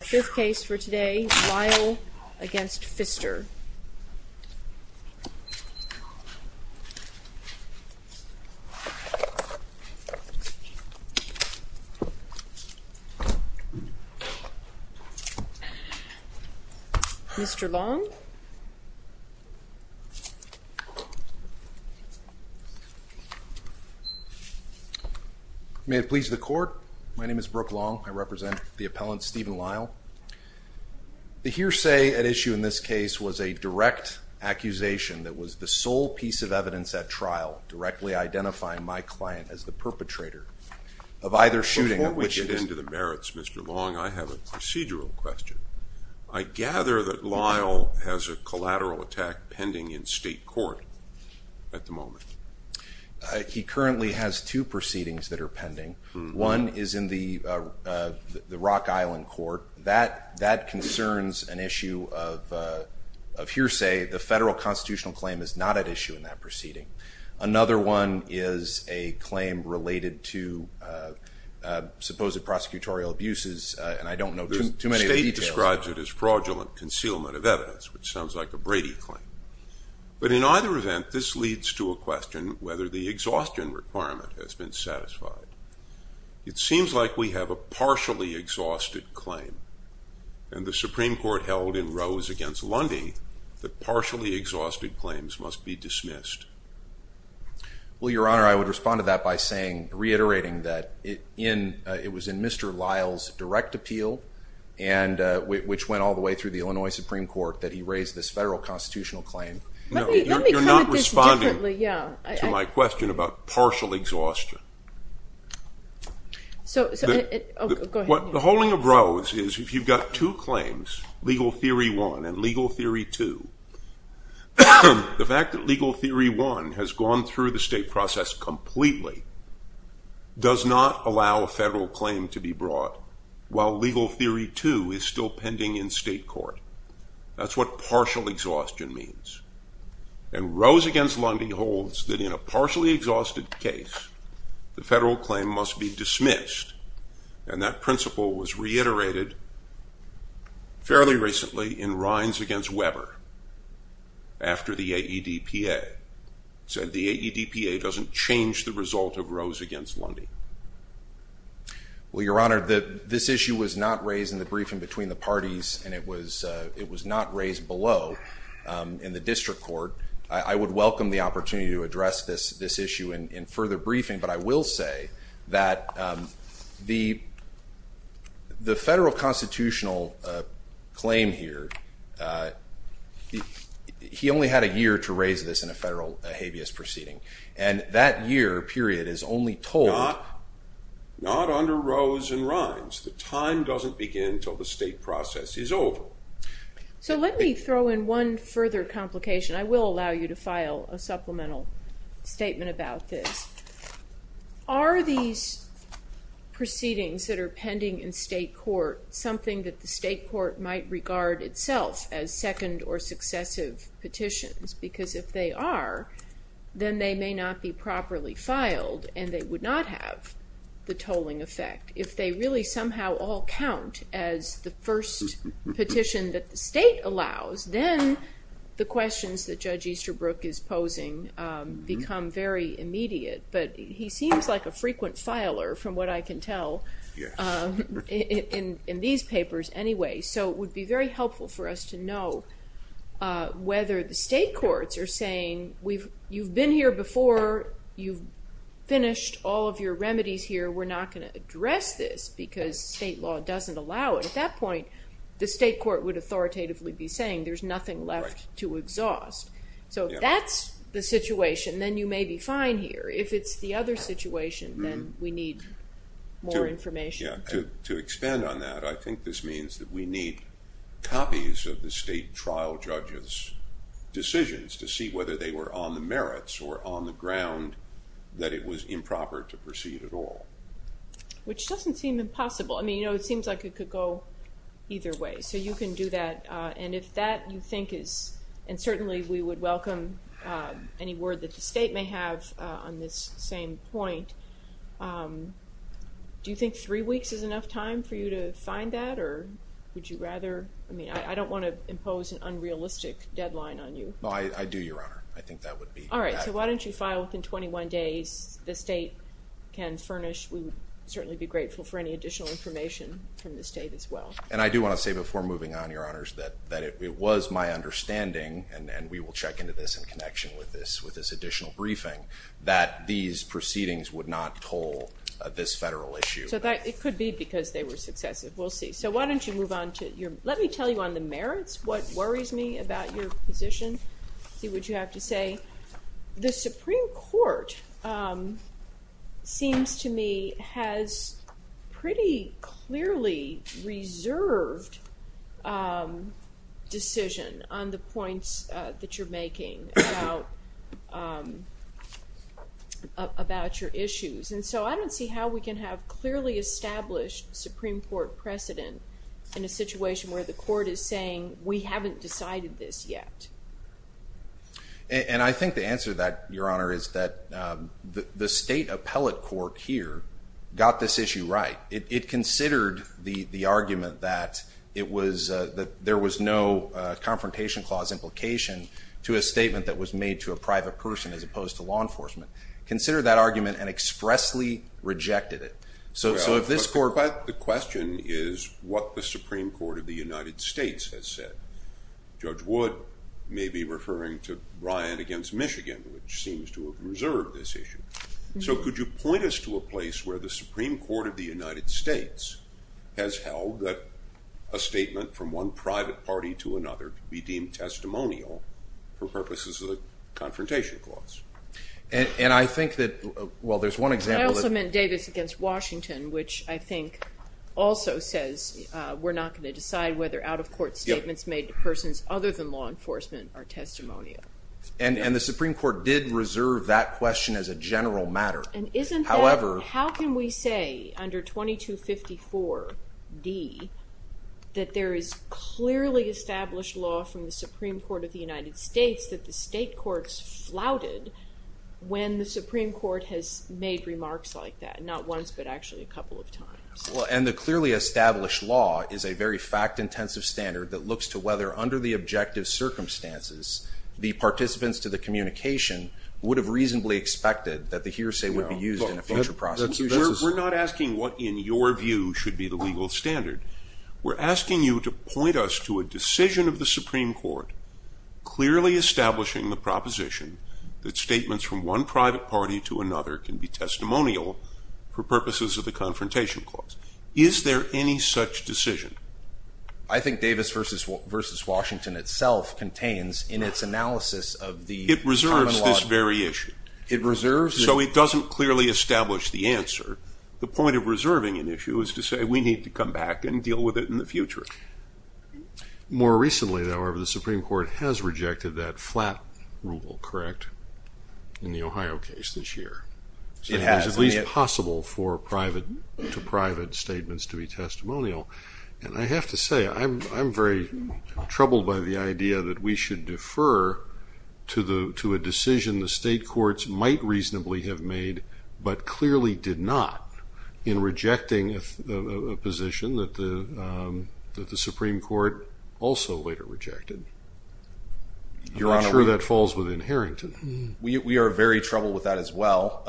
Fifth case for today, Lisle v. Pfister May it please the court, my name is Brook Long, I represent the appellant Stephen Lisle. The hearsay at issue in this case was a direct accusation that was the sole piece of evidence at trial directly identifying my client as the perpetrator of either shooting of which it is Before we get into the merits, Mr. Long, I have a procedural question. I gather that Lisle has a collateral attack pending in state court at the moment. He currently has two proceedings that are pending. One is in the Rock Island court. That concerns an issue of hearsay. The federal constitutional claim is not at issue in that proceeding. Another one is a claim related to supposed prosecutorial abuses, and I don't know too many details. The state describes it as fraudulent concealment of evidence, which sounds like a Brady claim. But in either event, this leads to a question whether the exhaustion requirement has been satisfied. It seems like we have a partially exhausted claim, and the Supreme Court held in Rose v. Lundy that partially exhausted claims must be dismissed. Well, Your Honor, I would respond to that by saying, reiterating that it was in Mr. Lisle's direct appeal, which went all the way through the Illinois Supreme Court, that he raised this federal constitutional claim. You're not responding to my question about partial exhaustion. The holding of Rose is if you've got two claims, Legal Theory 1 and Legal Theory 2, the fact that Legal Theory 1 has gone through the state process completely does not allow a federal claim to be brought, while Legal Theory 2 is still pending in state court. That's what partial exhaustion means. And Rose v. Lundy holds that in a partially exhausted case, the federal claim must be dismissed, and that principle was reiterated fairly recently in Rines v. Weber, after the AEDPA. He said the AEDPA doesn't change the result of Rose v. Lundy. Well, Your Honor, this issue was not raised in the briefing between the parties, and it was not raised below in the district court. I would welcome the opportunity to address this issue in further briefing, but I will say that the federal constitutional claim here, he only had a year to raise this in a federal habeas proceeding, and that year period is only told... Not under Rose and Rines. The time doesn't begin until the state process is over. So let me throw in one further complication. I will allow you to file a supplemental statement about this. Are these proceedings that are pending in state court something that the state court might regard itself as second or successive petitions? Because if they are, then they may not be properly filed, and they would not have the tolling effect. If they really somehow all count as the first petition that the state allows, then the questions that Judge Easterbrook is posing become very immediate. But he seems like a frequent filer, from what I can tell, in these papers anyway. So it would be very helpful for us to know whether the state courts are saying, you've been here before, you've finished all of your remedies here, we're not going to address this because state law doesn't allow it. At that point, the state court would authoritatively be saying there's nothing left to exhaust. So if that's the situation, then you may be fine here. If it's the other situation, then we need more information. To expand on that, I think this means that we need copies of the state trial judges' decisions to see whether they were on the merits or on the ground that it was improper to proceed at all. Which doesn't seem impossible. I mean, you know, it seems like it could go either way. So you can do that, and if that you think is, and certainly we would welcome any word that the state may have on this same point. Do you think three weeks is enough time for you to find that, or would you rather, I mean, I don't want to impose an unrealistic deadline on you. No, I do, Your Honor. I think that would be that. All right, so why don't you file within 21 days. The state can furnish, we would certainly be grateful for any additional information from the state as well. And I do want to say before moving on, Your Honors, that it was my understanding, and we will check into this in connection with this additional briefing, that these proceedings would not toll this federal issue. So it could be because they were successive. We'll see. So why don't you move on to your, let me tell you on the merits, what worries me about your position. See what you have to say. The Supreme Court seems to me has pretty clearly reserved decision on the points that you're making about your issues. And so I don't see how we can have clearly established Supreme Court precedent in a situation where the court is saying, we haven't decided this yet. And I think the answer to that, Your Honor, is that the state appellate court here got this issue right. It considered the argument that it was, that there was no confrontation clause implication to a statement that was made to a private person as opposed to law enforcement. Considered that argument and expressly rejected it. So Judge Wood may be referring to Bryant against Michigan, which seems to have reserved this issue. So could you point us to a place where the Supreme Court of the United States has held that a statement from one private party to another could be deemed testimonial for purposes of the confrontation clause? And I think that, well, there's one example. I also meant Davis against Washington, which I think also says we're not going to decide whether out-of-court statements made to persons other than law enforcement are testimonial. And the Supreme Court did reserve that question as a general matter. And isn't that, how can we say under 2254D that there is clearly established law from the Supreme Court of the United States that the state courts flouted when the Supreme Court has made remarks like that? Not once, but actually a couple of times. And the clearly established law is a very fact-intensive standard that looks to whether under the objective circumstances, the participants to the communication would have reasonably expected that the hearsay would be used in a future prosecution. We're not asking what in your view should be the legal standard. We're asking you to point us to a decision of the Supreme Court clearly establishing the proposition that statements from one private party to another can be testimonial for purposes of the confrontation clause. Is there any such decision? I think Davis versus Washington itself contains in its analysis of the common law. It reserves this very issue. It reserves the... So it doesn't clearly establish the answer. The point of reserving an issue is to say we need to come back and deal with it in the future. More recently, however, the Supreme Court has rejected that flat rule, correct, in the Ohio case this year. It has. It's at least possible for private to private statements to be testimonial. And I have to say, I'm very troubled by the idea that we should defer to a decision the state courts might reasonably have made, but clearly did not in rejecting a position that the Supreme Court also later rejected. I'm not sure that falls within Harrington. We are very troubled with that as well.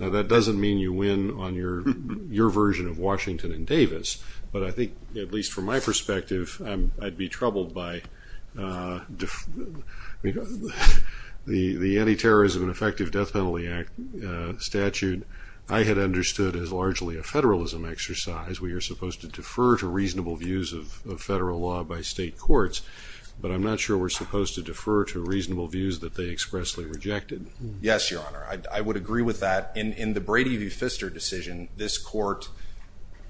Now, that doesn't mean you win on your version of Washington and Davis, but I think, at least from my perspective, I'd be troubled by the Anti-Terrorism and Effective Death Penalty Act statute. I had understood as largely a federalism exercise. We are supposed to defer to reasonable views of federal law by state courts, but I'm not sure we're supposed to defer to reasonable views that they expressly rejected. Yes, Your Honor. I would agree with that. In the Brady v. Pfister decision, this court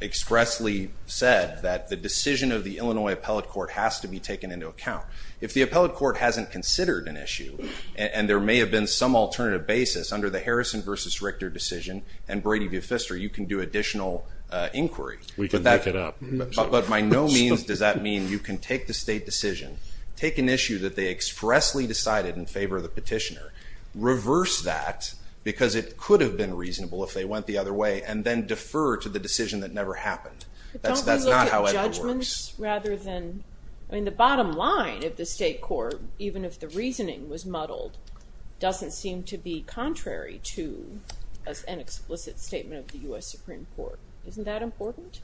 expressly said that the decision of the Illinois Appellate Court has to be taken into account. If the Appellate Court hasn't considered an issue, and there may have been some alternative basis under the Harrison v. Richter decision and Brady v. Pfister, you can do additional inquiry. We can pick it up. But by no means does that mean you can take the state decision, take an issue that they reversed that because it could have been reasonable if they went the other way, and then defer to the decision that never happened. But don't we look at judgments rather than—I mean, the bottom line of the state court, even if the reasoning was muddled, doesn't seem to be contrary to an explicit statement of the U.S. Supreme Court. Isn't that important?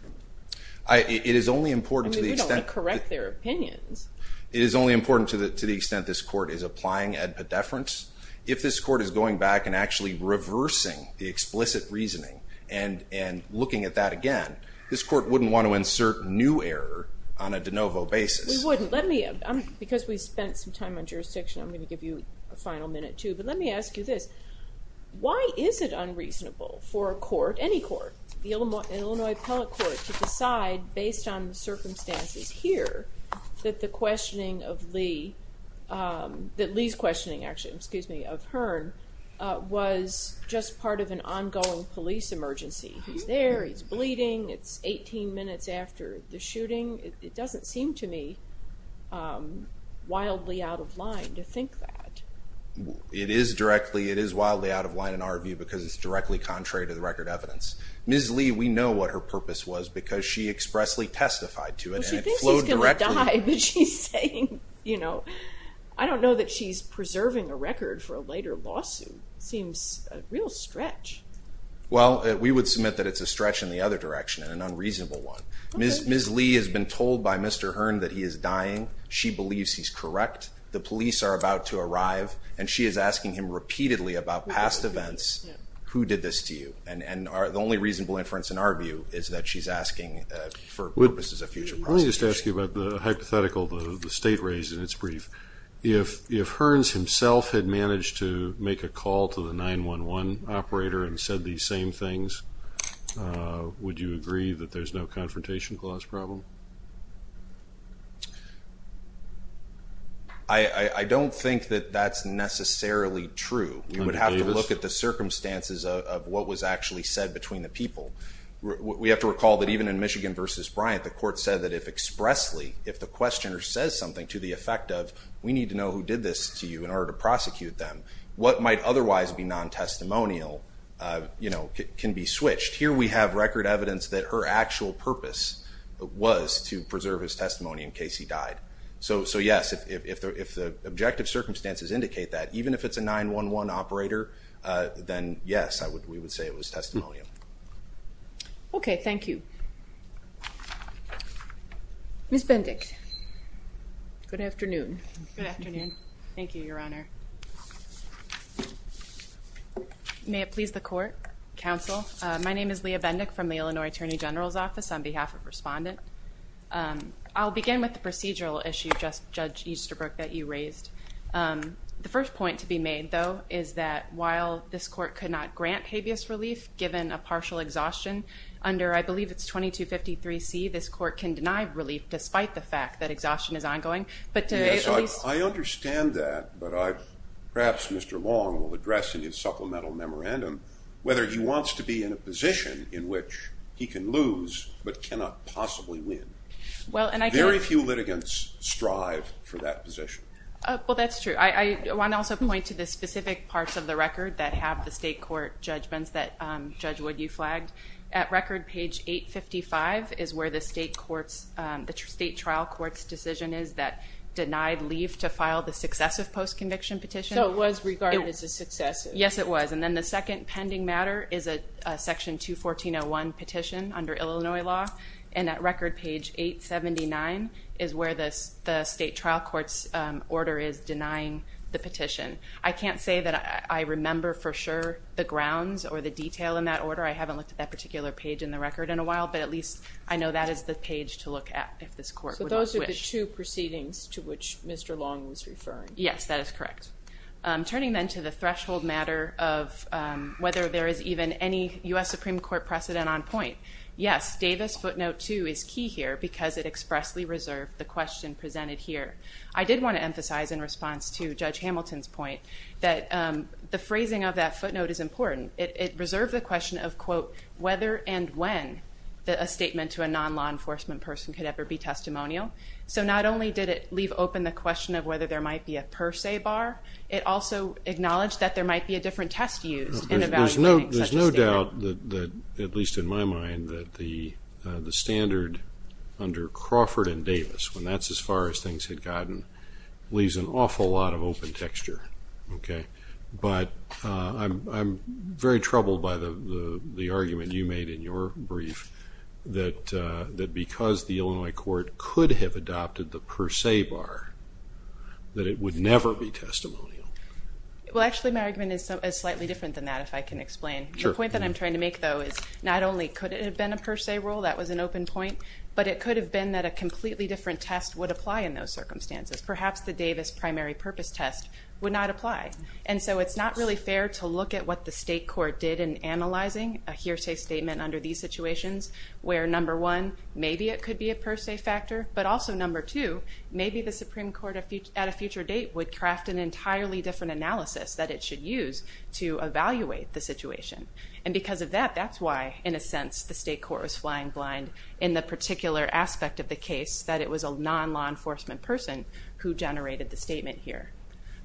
It is only important to the extent— I mean, we don't want to correct their opinions. It is only important to the extent this court is applying ad pediferance. If this court is going back and actually reversing the explicit reasoning and looking at that again, this court wouldn't want to insert new error on a de novo basis. We wouldn't. Let me—because we spent some time on jurisdiction, I'm going to give you a final minute, too. But let me ask you this. Why is it unreasonable for a court, any court, the Illinois Appellate Court, to decide based on the circumstances here that the questioning of Lee—that Lee's questioning, actually, excuse me, of Hearn was just part of an ongoing police emergency? He's there. He's bleeding. It's 18 minutes after the shooting. It doesn't seem to me wildly out of line to think that. It is directly—it is wildly out of line in our view because it's directly contrary to the record evidence. Ms. Lee, we know what her purpose was because she expressly testified to it and it flowed directly— Well, she thinks he's going to die, but she's saying, you know—I don't know that she's preserving a record for a later lawsuit. It seems a real stretch. Well, we would submit that it's a stretch in the other direction and an unreasonable one. Ms. Lee has been told by Mr. Hearn that he is dying. She believes he's correct. The police are about to arrive, and she is asking him repeatedly about past events, who did this to you? And the only reasonable inference in our view is that she's asking for purposes of future prosecution. Let me just ask you about the hypothetical the state raised in its brief. If Hearns himself had managed to make a call to the 911 operator and said these same things, would you agree that there's no confrontation clause problem? I don't think that that's necessarily true. We would have to look at the circumstances of what was actually said between the people. We have to recall that even in Michigan v. Bryant, the court said that if expressly, if the questioner says something to the effect of, we need to know who did this to you in order to prosecute them, what might otherwise be non-testimonial, you know, can be switched. Here we have record evidence that her actual purpose was to preserve his testimony in case he died. So yes, if the objective circumstances indicate that, even if it's a 911 operator, then yes, we would say it was testimonial. Okay, thank you. Ms. Bendick. Good afternoon. Good afternoon. Thank you, Your Honor. May it please the court, counsel. My name is Leah Bendick from the Illinois Attorney General's Office on behalf of Respondent. I'll begin with the procedural issue, Judge Easterbrook, that you raised. The first point to be made, though, is that while this court could not grant habeas relief given a partial exhaustion under, I believe it's 2253C, this court can deny relief despite the fact that exhaustion is ongoing. Yes, I understand that, but perhaps Mr. Long will address in his supplemental memorandum whether he wants to be in a position in which he can lose but cannot possibly win. Very few litigants strive for that position. Well, that's true. I want to also point to the specific parts of the record that have the state court judgments that, Judge Wood, you flagged. At record page 855 is where the state trial court's decision is that denied leave to file the successive post-conviction petition. So it was regarded as a successive. Yes, it was. And then the second pending matter is a section 214.01 petition under Illinois law. And at record page 879 is where the state trial court's order is denying the petition. I can't say that I remember for sure the grounds or the detail in that order. I haven't looked at that particular page in the record in a while, but at least I know that is the page to look at if this court would not wish. So those are the two proceedings to which Mr. Long was referring. Yes, that is correct. Turning then to the threshold matter of whether there is even any U.S. Supreme Court precedent on point. Yes, Davis footnote 2 is key here because it expressly reserved the question presented here. I did want to emphasize, in response to Judge Hamilton's point, that the phrasing of that footnote is important. It reserved the question of, quote, whether and when a statement to a non-law enforcement person could ever be testimonial. So not only did it leave open the question of whether there might be a per se bar, it also acknowledged that there might be a different test used in evaluating such a statement. There's no doubt, at least in my mind, that the standard under Crawford and Davis, when that's as far as things had gotten, leaves an awful lot of open texture. But I'm very troubled by the argument you made in your brief that because the Illinois court could have adopted the per se bar, that it would never be testimonial. Well, actually, my argument is slightly different than that, if I can explain. The point that I'm trying to make, though, is not only could it have been a per se rule, that was an open point, but it could have been that a completely different test would apply in those circumstances. Perhaps the Davis primary purpose test would not apply. And so it's not really fair to look at what the state court did in analyzing a hearsay statement under these situations, where number one, maybe it could be a per se factor, but also number two, maybe the Supreme Court at a future date would craft an entirely different analysis that it should use to evaluate the situation. And because of that, that's why, in a sense, the state court was flying blind in the particular aspect of the case, that it was a non-law enforcement person who generated the statement here.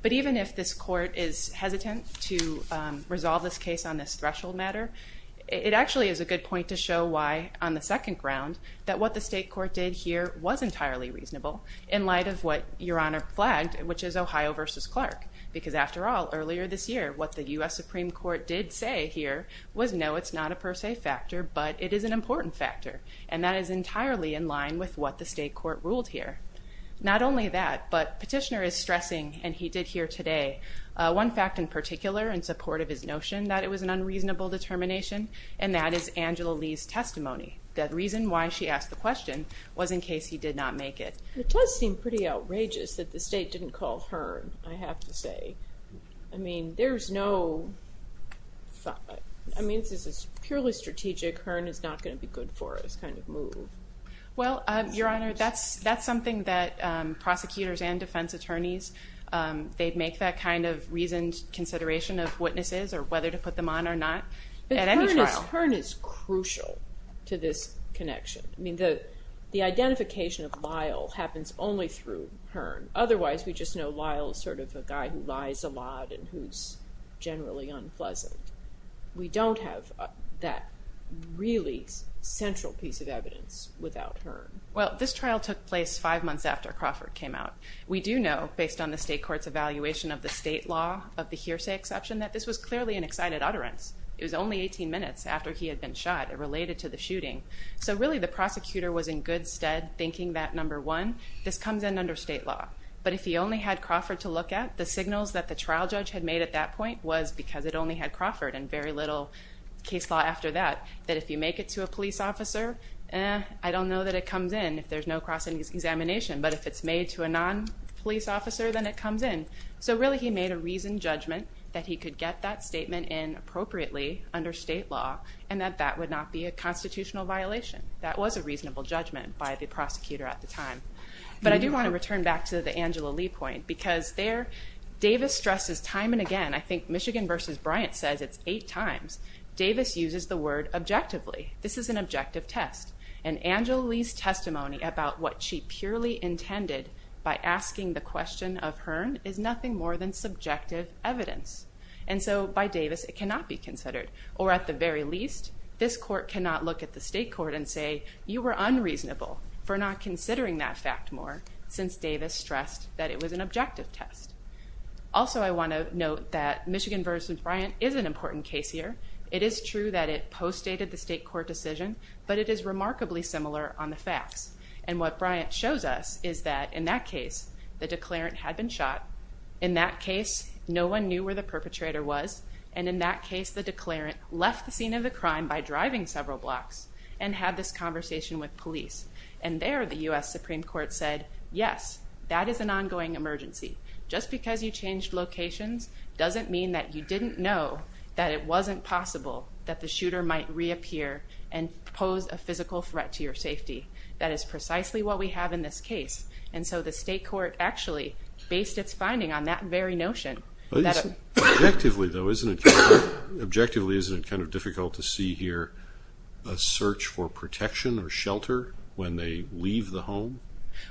But even if this court is hesitant to resolve this case on this threshold matter, it actually is a good point to show why, on the second ground, that what the state court did here was entirely reasonable, in light of what Your Honor flagged, which is Ohio versus Clark. Because after all, earlier this year, what the U.S. Supreme Court did say here was no, it's not a per se factor, but it is an important factor. And that is entirely in line with what the state court ruled here. Not only that, but Petitioner is stressing, and he did here today, one fact in particular in support of his notion that it was an unreasonable determination, and that is Angela Lee's testimony. The reason why she asked the question was in case he did not make it. It does seem pretty outrageous that the state didn't call Hearn, I have to say. I mean, there's no thought. I mean, this is purely strategic, Hearn is not going to be good for us kind of move. Well, Your Honor, that's something that prosecutors and defense attorneys, they'd make that kind of reasoned consideration of witnesses or whether to put them on or not at any trial. But Hearn is crucial to this connection. I mean, the identification of Lyle happens only through Hearn. Otherwise, we just know Lyle is sort of a guy who lies a lot and who's generally unpleasant. We don't have that really central piece of evidence without Hearn. Well, this trial took place five months after Crawford came out. We do know, based on the state court's evaluation of the state law of the hearsay exception, that this was clearly an excited utterance. It was only 18 minutes after he had been shot. It related to the shooting. So really the prosecutor was in good stead thinking that, number one, this comes in under state law. But if he only had Crawford to look at, the signals that the trial judge had made at that point was because it only had Crawford and very little case law after that, that if you make it to a police officer, eh, I don't know that it comes in if there's no cross-examination, but if it's made to a non-police officer, then it comes in. So really he made a reasoned judgment that he could get that statement in appropriately under state law and that that would not be a constitutional violation. That was a reasonable judgment by the prosecutor at the time. But I do want to return back to the Angela Lee point because there Davis stresses time and again, I think Michigan v. Bryant says it's eight times, Davis uses the word objectively. This is an objective test. And Angela Lee's testimony about what she purely intended by asking the question of Hearn is nothing more than subjective evidence. And so by Davis, it cannot be considered. Or at the very least, this court cannot look at the state court and say, you were unreasonable for not considering that fact more since Davis stressed that it was an objective test. Also I want to note that Michigan v. Bryant is an important case here. It is true that it postdated the state court decision, but it is remarkably similar on the facts. And what Bryant shows us is that in that case, the declarant had been shot. In that case, no one knew where the perpetrator was. And in that case, the declarant left the scene of the crime by driving several blocks and had this conversation with police. And there the U.S. Supreme Court said, yes, that is an ongoing emergency. Just because you changed locations doesn't mean that you didn't know that it wasn't possible that the shooter might reappear and pose a physical threat to your safety. That is precisely what we have in this case. And so the state court actually based its finding on that very notion. Objectively, though, isn't it kind of difficult to see here a search for protection or shelter when they leave the home?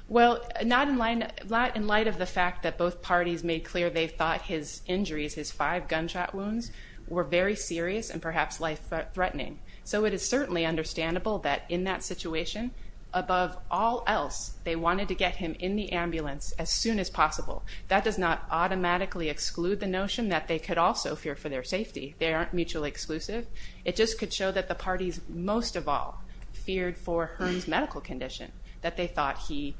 Well, not in light of the fact that both parties made clear they thought his injuries, his five gunshot wounds, were very serious and perhaps life-threatening. So it is certainly understandable that in that situation, above all else, they wanted to get him in the ambulance as soon as possible. That does not automatically exclude the notion that they could also fear for their safety. They aren't mutually exclusive. It just could show that the parties most of all feared for Hearn's medical condition, that they thought he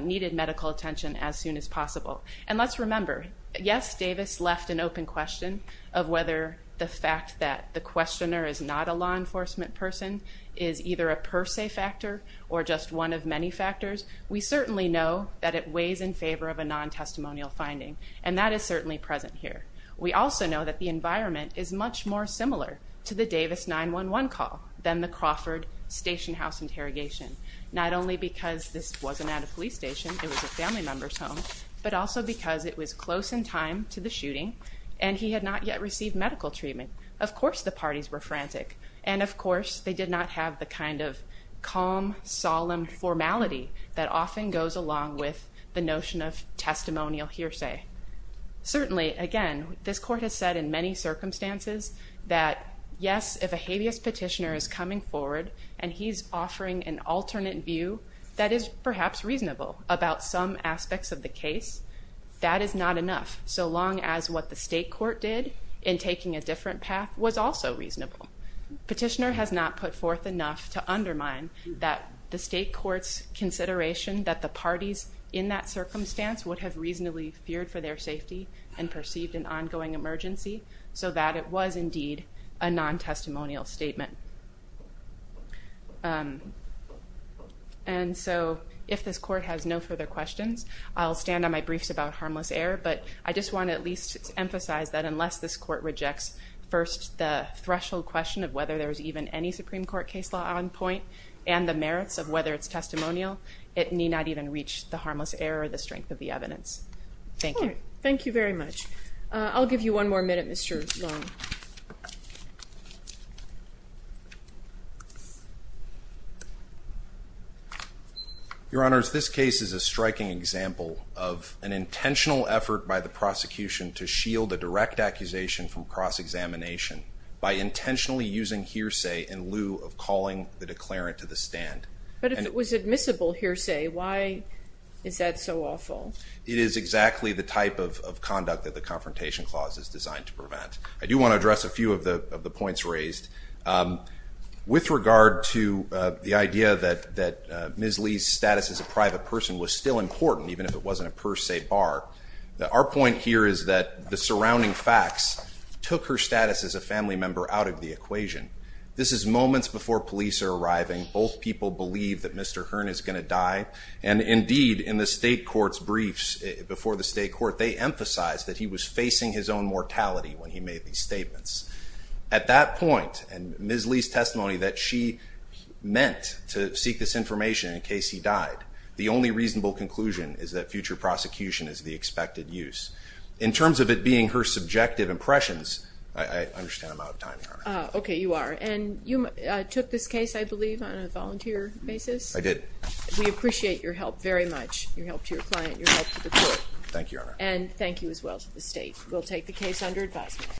needed medical attention as soon as possible. And let's remember, yes, Davis left an open question of whether the fact that the questioner is not a law enforcement person is either a per se factor or just one of many factors. We certainly know that it weighs in favor of a non-testimonial finding. And that is certainly present here. We also know that the environment is much more similar to the Davis 911 call than the Crawford station house interrogation. Not only because this wasn't at a police station, it was a family member's home, but also because it was close in time to the shooting and he had not yet received medical treatment. Of course the parties were frantic, and of course they did not have the kind of calm, solemn formality that often goes along with the notion of testimonial hearsay. Certainly, again, this court has said in many circumstances that, yes, if a habeas petitioner is coming forward and he's offering an alternate view that is perhaps reasonable about some aspects of the case, that is not enough, so long as what the state court did in taking a different path was also reasonable. Petitioner has not put forth enough to undermine the state court's consideration that the parties in that circumstance would have reasonably feared for their safety and perceived an ongoing emergency, so that it was indeed a non-testimonial statement. And so if this court has no further questions, I'll stand on my briefs about harmless error, but I just want to at least emphasize that unless this court rejects first the threshold question of whether there's even any Supreme Court case law on point, and the merits of whether it's testimonial, it need not even reach the harmless error or the strength of the evidence. Thank you. All right. Thank you very much. I'll give you one more minute, Mr. Long. Your Honors, this case is a striking example of an intentional effort by the prosecution to shield a direct accusation from cross-examination by intentionally using hearsay in lieu of calling the declarant to the stand. But if it was admissible hearsay, why is that so awful? It is exactly the type of conduct that the Confrontation Clause is designed to prevent. I do want to address a few of the points raised. With regard to the idea that Ms. Lee's status as a private person was still important, even if it wasn't a per se bar, our point here is that the surrounding facts took her status as a family member out of the equation. This is moments before police are arriving, both people believe that Mr. Hearn is going to die, and indeed in the State Court's briefs before the State Court, they emphasized that he was facing his own mortality when he made these statements. At that point, and Ms. Lee's testimony that she meant to seek this information in case he died, the only reasonable conclusion is that future prosecution is the expected use. In terms of it being her subjective impressions, I understand I'm out of time, Your Honor. Okay, you are. And you took this case, I believe, on a volunteer basis? I did. We appreciate your help very much, your help to your client, your help to the court. Thank you, Your Honor. And thank you as well to the State. We'll take the case under advisement.